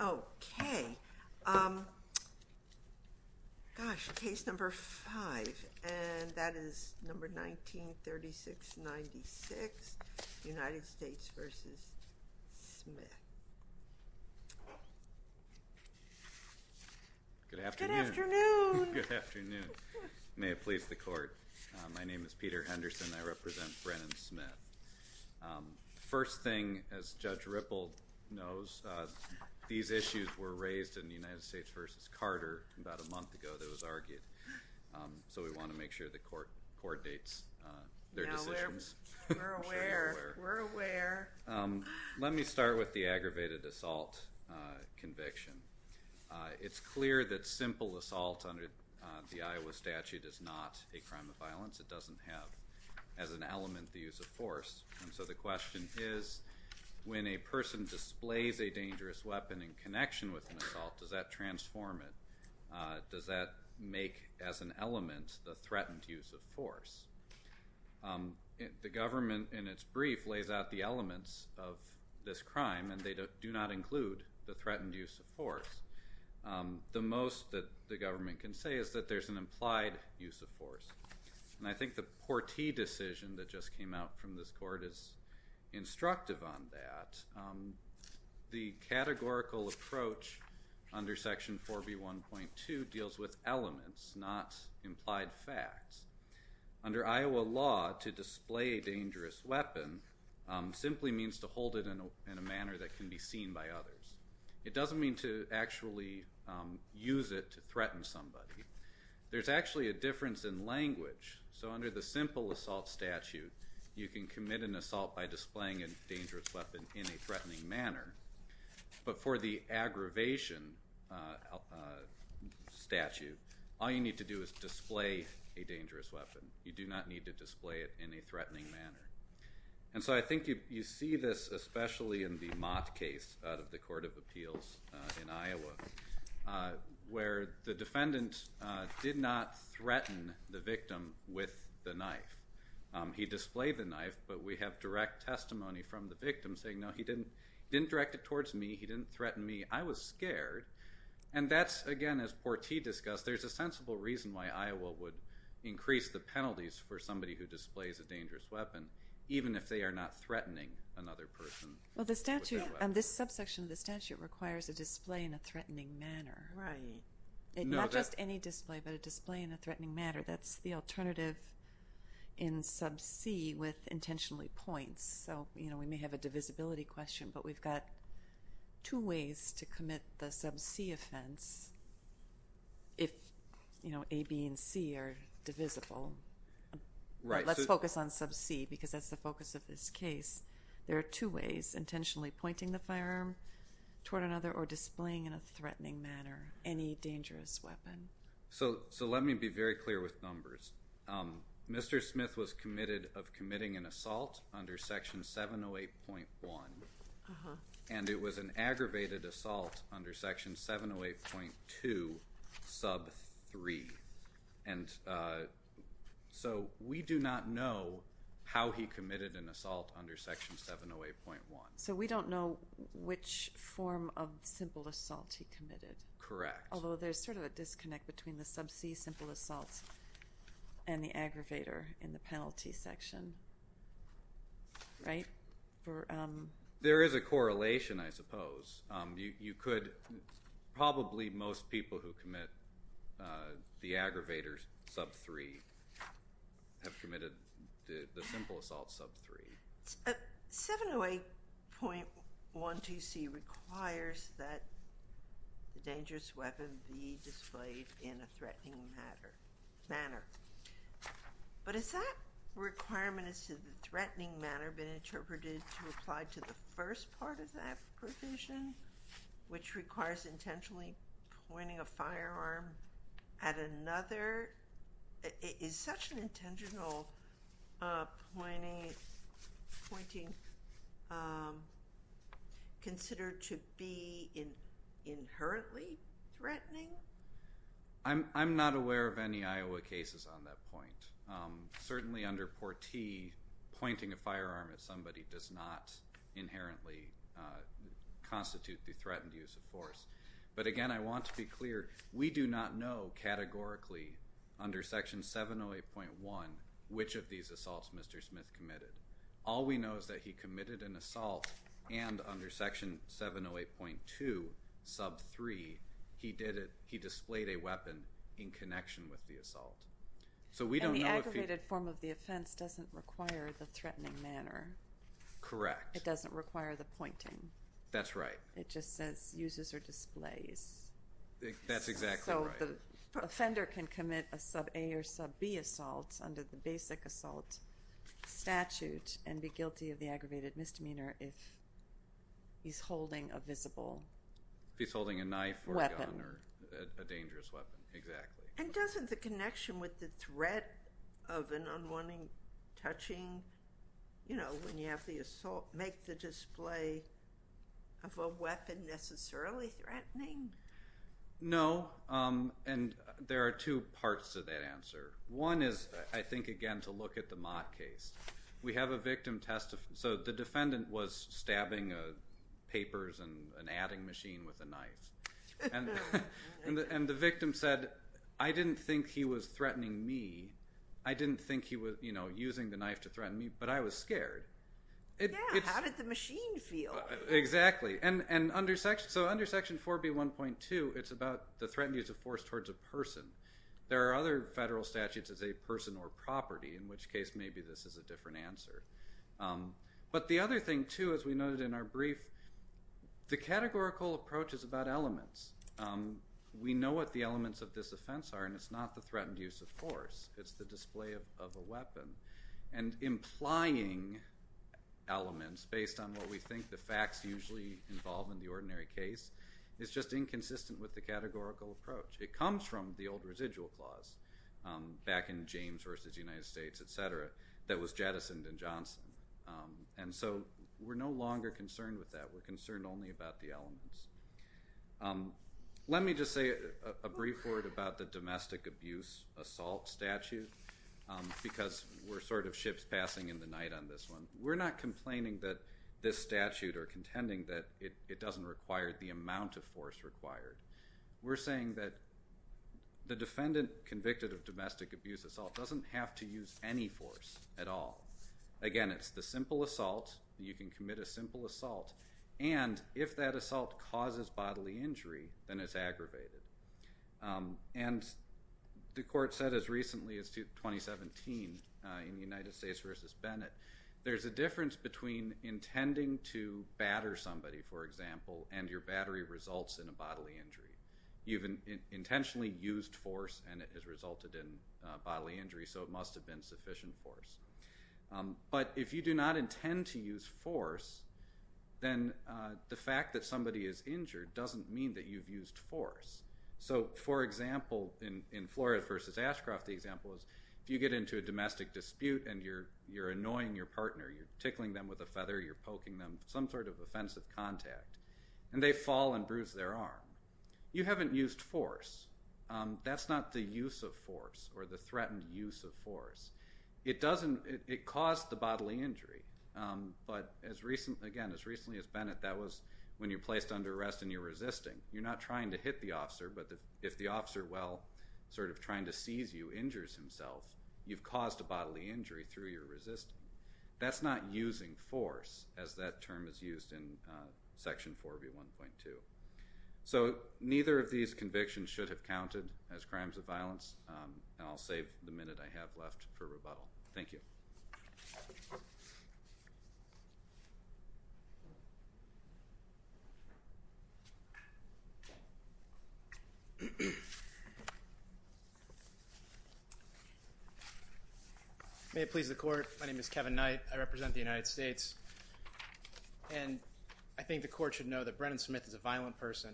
Okay, um, gosh, case number five. And that is number 19-3696, United States v. Smith. Good afternoon. Good afternoon. Good afternoon. May it please the court. My name is Peter Henderson and I represent Brennen Smith. First thing, as Judge Ripple knows, these issues were raised in the United States v. Carter about a month ago that was argued. So we want to make sure the court coordinates their decisions. We're aware. We're aware. Let me start with the aggravated assault conviction. It's clear that simple assault under the Iowa statute is not a crime of violence. It doesn't have as an element the use of force. And so the question is, when a person displays a dangerous weapon in connection with an assault, does that transform it? Does that make as an element the threatened use of force? The government in its brief lays out the elements of this crime and they do not include the threatened use of force. The most that the government can say is that there's an implied use of force. And I think the Porti decision that just came out from this court is instructive on that. The categorical approach under Section 4B1.2 deals with elements, not implied facts. Under Iowa law, to display a dangerous weapon simply means to hold it in a manner that can be seen by others. It doesn't mean to actually use it to threaten somebody. There's actually a difference in language. So under the simple assault statute, you can commit an assault by displaying a dangerous weapon in a threatening manner. But for the aggravation statute, all you need to do is display a dangerous weapon. You do not need to display it in a threatening manner. And so I think you see this especially in the Mott case out of the Court of Appeals in Iowa, where the defendant did not threaten the victim with the knife. He displayed the knife, but we have direct testimony from the victim saying, no, he didn't direct it towards me. He didn't threaten me. I was scared. And that's, again, as Porti discussed, there's a sensible reason why Iowa would increase the penalties for somebody who displays a dangerous weapon, even if they are not threatening another person with that weapon. Well, this subsection of the statute requires a display in a threatening manner. Right. Not just any display, but a display in a threatening manner. That's the alternative in sub C with intentionally points. So we may have a divisibility question, but we've got two ways to commit the sub C offense if A, B, and C are divisible. Let's focus on sub C because that's the focus of this case. There are two ways, intentionally pointing the firearm toward another or displaying in a threatening manner any dangerous weapon. So let me be very clear with numbers. Mr. Smith was committed of committing an assault under Section 708.1, and it was an aggravated assault under Section 708.2 sub 3. And so we do not know how he committed an assault under Section 708.1. So we don't know which form of simple assault he committed. Correct. Although there's sort of a disconnect between the sub C simple assault and the aggravator in the penalty section. Right? There is a correlation, I suppose. You could probably most people who commit the aggravator sub 3 have committed the simple assault sub 3. 708.12C requires that the dangerous weapon be displayed in a threatening manner. But is that requirement as to the threatening manner been interpreted to apply to the first part of that provision, which requires intentionally pointing a firearm at another? Is such an intentional pointing considered to be inherently threatening? I'm not aware of any Iowa cases on that point. Certainly under Portee, pointing a firearm at somebody does not inherently constitute the threatened use of force. But, again, I want to be clear. We do not know categorically under Section 708.1 which of these assaults Mr. Smith committed. All we know is that he committed an assault, and under Section 708.2 sub 3 he displayed a weapon in connection with the assault. And the aggravated form of the offense doesn't require the threatening manner. Correct. It doesn't require the pointing. That's right. It just says uses or displays. That's exactly right. So the offender can commit a sub A or sub B assault under the basic assault statute and be guilty of the aggravated misdemeanor if he's holding a visible weapon. If he's holding a knife or a gun or a dangerous weapon. Exactly. And doesn't the connection with the threat of an unwanted touching, you know, when you have the assault, make the display of a weapon necessarily threatening? No. And there are two parts to that answer. One is, I think, again, to look at the Mott case. We have a victim testifying. So the defendant was stabbing papers and an adding machine with a knife. And the victim said, I didn't think he was threatening me. I didn't think he was, you know, using the knife to threaten me. But I was scared. Yeah. How did the machine feel? Exactly. So under Section 4B1.2, it's about the threatened use of force towards a person. There are other federal statutes that say person or property, in which case maybe this is a different answer. But the other thing, too, as we noted in our brief, the categorical approach is about elements. We know what the elements of this offense are, and it's not the threatened use of force. It's the display of a weapon. And implying elements based on what we think the facts usually involve in the ordinary case is just inconsistent with the categorical approach. It comes from the old residual clause back in James v. United States, et cetera, that was jettisoned in Johnson. And so we're no longer concerned with that. We're concerned only about the elements. Let me just say a brief word about the domestic abuse assault statute because we're sort of ships passing in the night on this one. We're not complaining that this statute or contending that it doesn't require the amount of force required. We're saying that the defendant convicted of domestic abuse assault doesn't have to use any force at all. Again, it's the simple assault. You can commit a simple assault. And if that assault causes bodily injury, then it's aggravated. And the court said as recently as 2017 in United States v. Bennett, there's a difference between intending to batter somebody, for example, and your battery results in a bodily injury. You've intentionally used force, and it has resulted in bodily injury, so it must have been sufficient force. But if you do not intend to use force, then the fact that somebody is injured doesn't mean that you've used force. So, for example, in Flores v. Ashcroft, the example is if you get into a domestic dispute and you're annoying your partner, you're tickling them with a feather, you're poking them, some sort of offensive contact, and they fall and bruise their arm. You haven't used force. That's not the use of force or the threatened use of force. It caused the bodily injury. But, again, as recently as Bennett, that was when you're placed under arrest and you're resisting. You're not trying to hit the officer, but if the officer, well, sort of trying to seize you, injures himself, you've caused a bodily injury through your resisting. That's not using force, as that term is used in Section 4 v. 1.2. So neither of these convictions should have counted as crimes of violence, and I'll save the minute I have left for rebuttal. Thank you. May it please the Court, my name is Kevin Knight. I represent the United States, and I think the Court should know that Brennan Smith is a violent person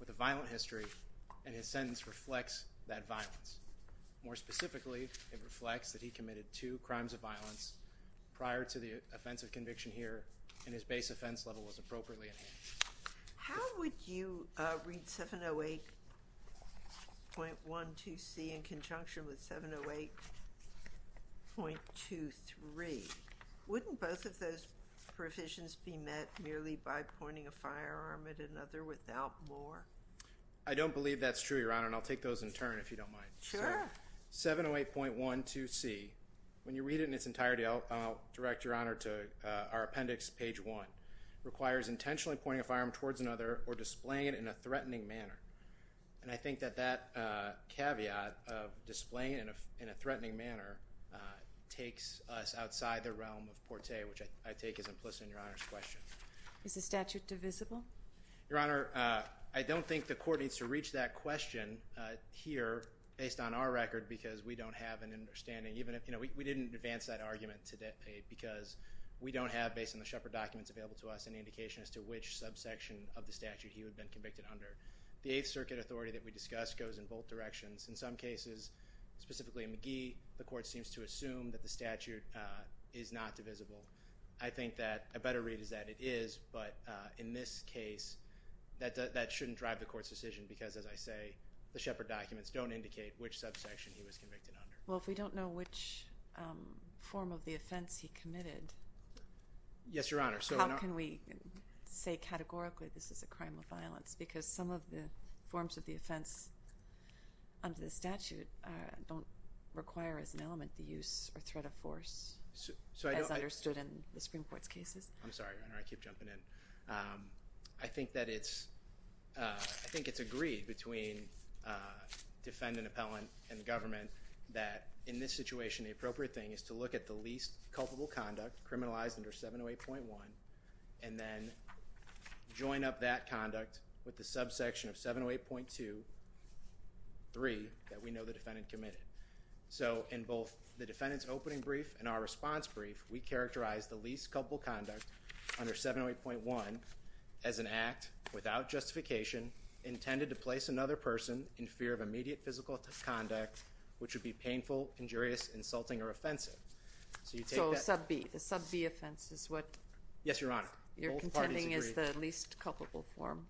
with a violent history, and his sentence reflects that violence. More specifically, it reflects that he committed two crimes of violence prior to the offensive conviction here, and his base offense level was appropriately enhanced. How would you read 708.12c in conjunction with 708.23? Wouldn't both of those provisions be met merely by pointing a firearm at another without more? I don't believe that's true, Your Honor, and I'll take those in turn if you don't mind. Sure. 708.12c, when you read it in its entirety, I'll direct Your Honor to our appendix, page 1, requires intentionally pointing a firearm towards another or displaying it in a threatening manner. And I think that that caveat of displaying it in a threatening manner takes us outside the realm of porté, which I take as implicit in Your Honor's question. Is the statute divisible? Your Honor, I don't think the Court needs to reach that question here based on our record because we don't have an understanding. We didn't advance that argument today because we don't have, based on the Shepard documents available to us, any indication as to which subsection of the statute he would have been convicted under. The Eighth Circuit authority that we discussed goes in both directions. In some cases, specifically in McGee, the Court seems to assume that the statute is not divisible. I think that a better read is that it is, but in this case, that shouldn't drive the Court's decision because, as I say, the Shepard documents don't indicate which subsection he was convicted under. Well, if we don't know which form of the offense he committed, how can we say categorically this is a crime of violence? Because some of the forms of the offense under the statute don't require as an element the use or threat of force as understood in the Supreme Court's cases. I'm sorry, Your Honor. I keep jumping in. I think that it's agreed between defendant, appellant, and government that, in this situation, the appropriate thing is to look at the least culpable conduct, criminalized under 708.1, and then join up that conduct with the subsection of 708.2.3 that we know the defendant committed. So, in both the defendant's opening brief and our response brief, we characterize the least culpable conduct under 708.1 as an act, without justification, intended to place another person in fear of immediate physical conduct which would be painful, injurious, insulting, or offensive. So, you take that? So, sub B. The sub B offense is what you're contending is the least culpable form.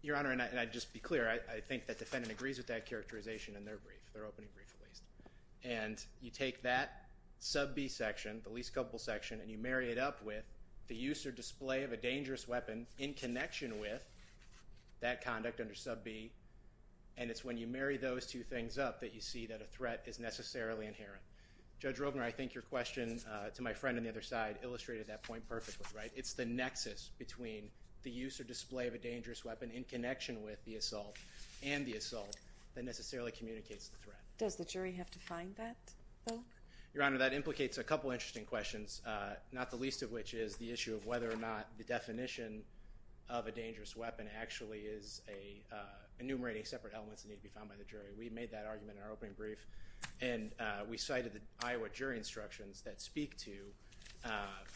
Yes, Your Honor. Both parties agree. Your Honor, and I'd just be clear. I think the defendant agrees with that characterization in their brief, their opening brief, at least. And you take that sub B section, the least culpable section, and you marry it up with the use or display of a dangerous weapon in connection with that conduct under sub B, and it's when you marry those two things up that you see that a threat is necessarily inherent. Judge Robner, I think your question to my friend on the other side illustrated that point perfectly, right? It's the nexus between the use or display of a dangerous weapon in connection with the assault and the assault that necessarily communicates the threat. Does the jury have to find that, though? Your Honor, that implicates a couple of interesting questions, not the least of which is the issue of whether or not the definition of a dangerous weapon actually is enumerating separate elements that need to be found by the jury. We made that argument in our opening brief, and we cited the Iowa jury instructions that speak to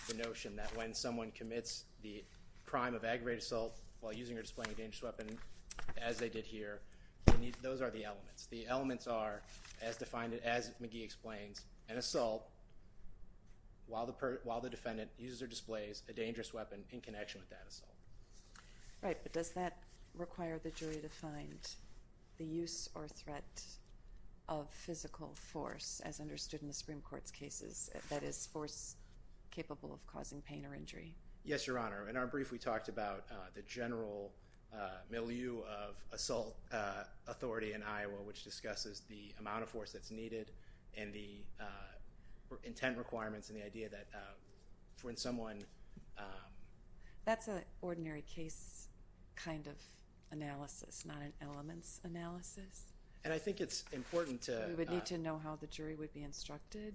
the notion that when someone commits the crime of aggravated assault while using or displaying a dangerous weapon, as they did here, those are the elements. The elements are, as defined, as McGee explains, an assault while the defendant uses or displays a dangerous weapon in connection with that assault. Right, but does that require the jury to find the use or threat of physical force, as understood in the Supreme Court's cases, that is, force capable of causing pain or injury? Yes, Your Honor. In our brief, we talked about the general milieu of assault authority in Iowa, which discusses the amount of force that's needed and the intent requirements and the idea that when someone— That's an ordinary case kind of analysis, not an elements analysis. And I think it's important to— We would need to know how the jury would be instructed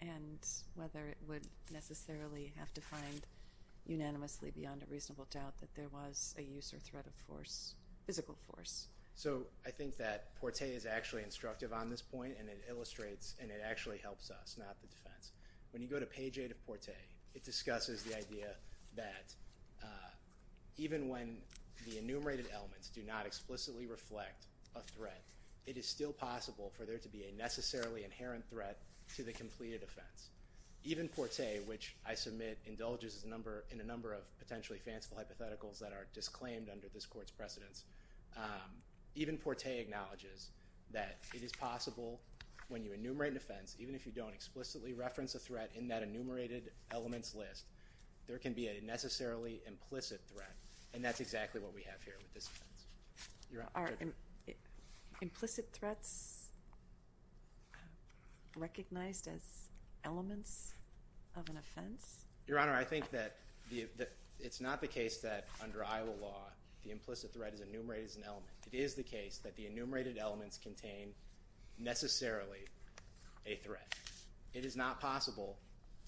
and whether it would necessarily have to find unanimously beyond a reasonable doubt that there was a use or threat of force, physical force. So I think that Portet is actually instructive on this point, and it illustrates, and it actually helps us, not the defense. When you go to page 8 of Portet, it discusses the idea that even when the enumerated elements do not explicitly reflect a threat, it is still possible for there to be a necessarily inherent threat to the completed offense. Even Portet, which I submit indulges in a number of potentially fanciful hypotheticals that are disclaimed under this Court's precedence, even Portet acknowledges that it is possible when you enumerate an offense, even if you don't explicitly reference a threat in that enumerated elements list, there can be a necessarily implicit threat. And that's exactly what we have here with this offense. Are implicit threats recognized as elements of an offense? Your Honor, I think that it's not the case that under Iowa law, the implicit threat is enumerated as an element. It is the case that the enumerated elements contain necessarily a threat. It is not possible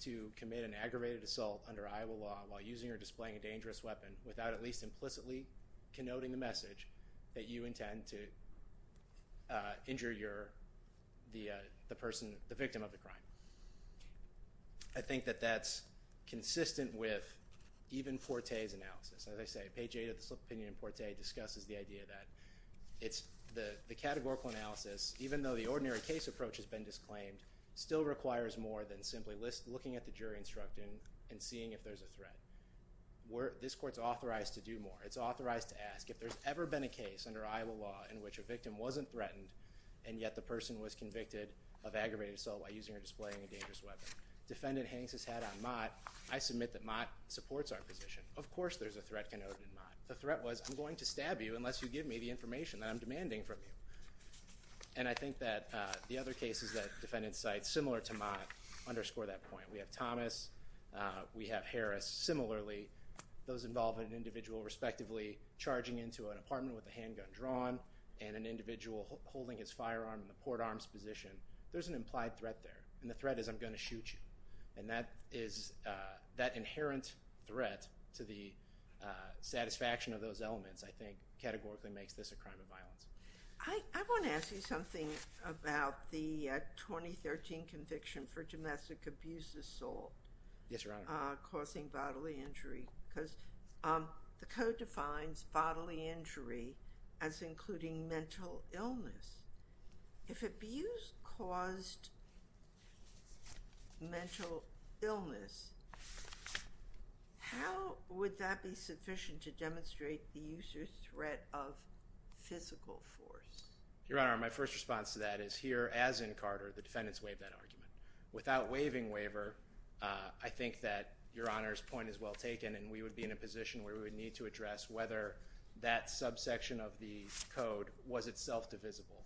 to commit an aggravated assault under Iowa law while using or displaying a dangerous weapon without at least implicitly connoting the message that you intend to injure the victim of the crime. I think that that's consistent with even Portet's analysis. As I say, page 8 of this opinion in Portet discusses the idea that the categorical analysis, even though the ordinary case approach has been disclaimed, still requires more than simply looking at the jury instructing and seeing if there's a threat. This Court's authorized to do more. It's authorized to ask if there's ever been a case under Iowa law in which a victim wasn't threatened and yet the person was convicted of aggravated assault by using or displaying a dangerous weapon. Defendant hangs his hat on Mott. I submit that Mott supports our position. Of course there's a threat connoted in Mott. The threat was I'm going to stab you unless you give me the information that I'm demanding from you. And I think that the other cases that defendants cite similar to Mott underscore that point. We have Thomas. We have Harris. Similarly, those involving an individual respectively charging into an apartment with a handgun drawn and an individual holding his firearm in the port arms position, there's an implied threat there. And the threat is I'm going to shoot you. And that is that inherent threat to the satisfaction of those elements, I think, categorically makes this a crime of violence. I want to ask you something about the 2013 conviction for domestic abuse assault. Yes, Your Honor. Causing bodily injury because the code defines bodily injury as including mental illness. If abuse caused mental illness, how would that be sufficient to demonstrate the user's threat of physical force? Your Honor, my first response to that is here as in Carter, the defendants waived that argument. Without waiving waiver, I think that Your Honor's point is well taken and we would be in a position where we would need to address whether that subsection of the code was itself divisible.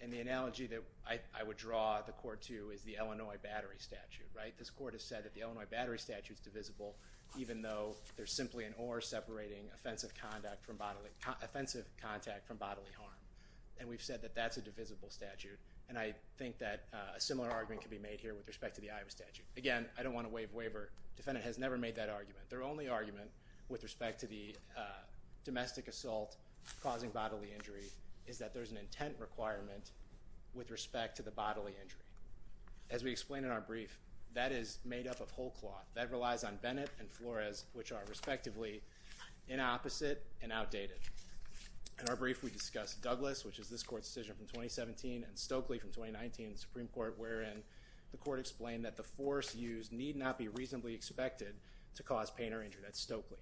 And the analogy that I would draw the court to is the Illinois Battery Statute, right? This court has said that the Illinois Battery Statute is divisible even though there's simply an or separating offensive contact from bodily harm. And we've said that that's a divisible statute. And I think that a similar argument could be made here with respect to the Iowa Statute. Again, I don't want to waive waiver. The defendant has never made that argument. Their only argument with respect to the domestic assault causing bodily injury is that there's an intent requirement with respect to the bodily injury. As we explained in our brief, that is made up of whole cloth. That relies on Bennett and Flores, which are respectively inopposite and outdated. In our brief, we discussed Douglas, which is this court's decision from 2017, and Stokely from 2019 in the Supreme Court, wherein the court explained that the force used need not be reasonably expected to cause pain or injury. That's Stokely.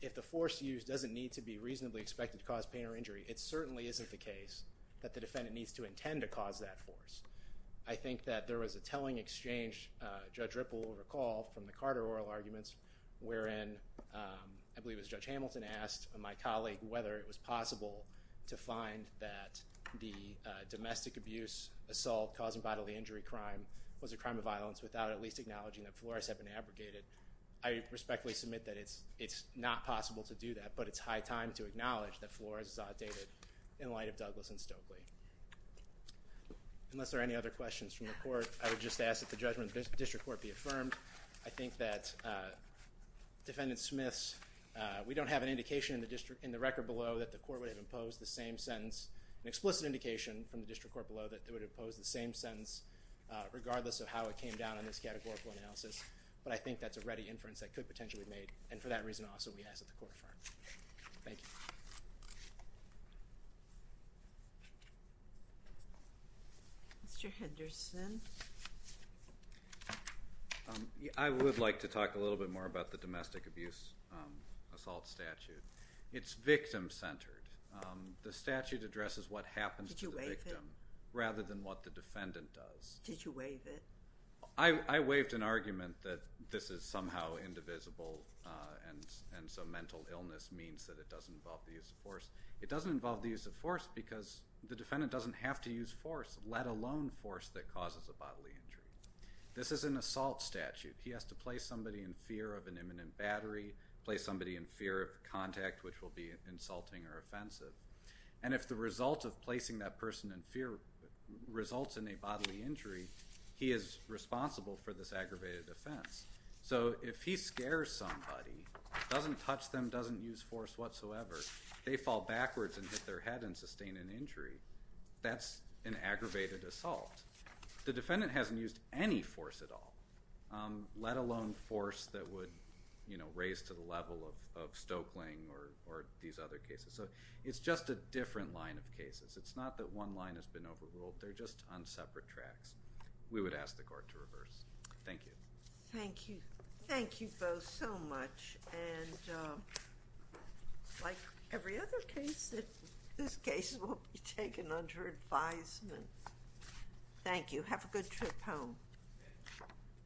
If the force used doesn't need to be reasonably expected to cause pain or injury, it certainly isn't the case that the defendant needs to intend to cause that force. I think that there was a telling exchange, Judge Ripple will recall, from the Carter oral arguments, wherein I believe it was Judge Hamilton asked my colleague whether it was possible to find that the domestic abuse assault causing bodily injury crime was a crime of violence without at least acknowledging that Flores had been abrogated. I respectfully submit that it's not possible to do that, but it's high time to acknowledge that Flores is outdated in light of Douglas and Stokely. Unless there are any other questions from the court, I would just ask that the judgment of the district court be affirmed. I think that, Defendant Smith, we don't have an indication in the record below that the court would have imposed the same sentence, an explicit indication from the district court below that it would have imposed the same sentence regardless of how it came down in this categorical analysis, but I think that's a ready inference that could potentially be made, and for that reason also we ask that the court affirm. Thank you. Mr. Henderson. I would like to talk a little bit more about the domestic abuse assault statute. It's victim-centered. The statute addresses what happens to the victim rather than what the defendant does. Did you waive it? I waived an argument that this is somehow indivisible and so mental illness means that it doesn't involve the use of force. It doesn't involve the use of force because the defendant doesn't have to use force, let alone force that causes a bodily injury. This is an assault statute. He has to place somebody in fear of an imminent battery, place somebody in fear of contact which will be insulting or offensive, and if the result of placing that person in fear results in a bodily injury, he is responsible for this aggravated offense. So if he scares somebody, doesn't touch them, doesn't use force whatsoever, they fall backwards and hit their head and sustain an injury, that's an aggravated assault. The defendant hasn't used any force at all, let alone force that would raise to the level of Stoeckling or these other cases. So it's just a different line of cases. It's not that one line has been overruled. They're just on separate tracks. We would ask the court to reverse. Thank you. Thank you. Thank you both so much. And like every other case, this case will be taken under advisement. Thank you. Have a good trip home.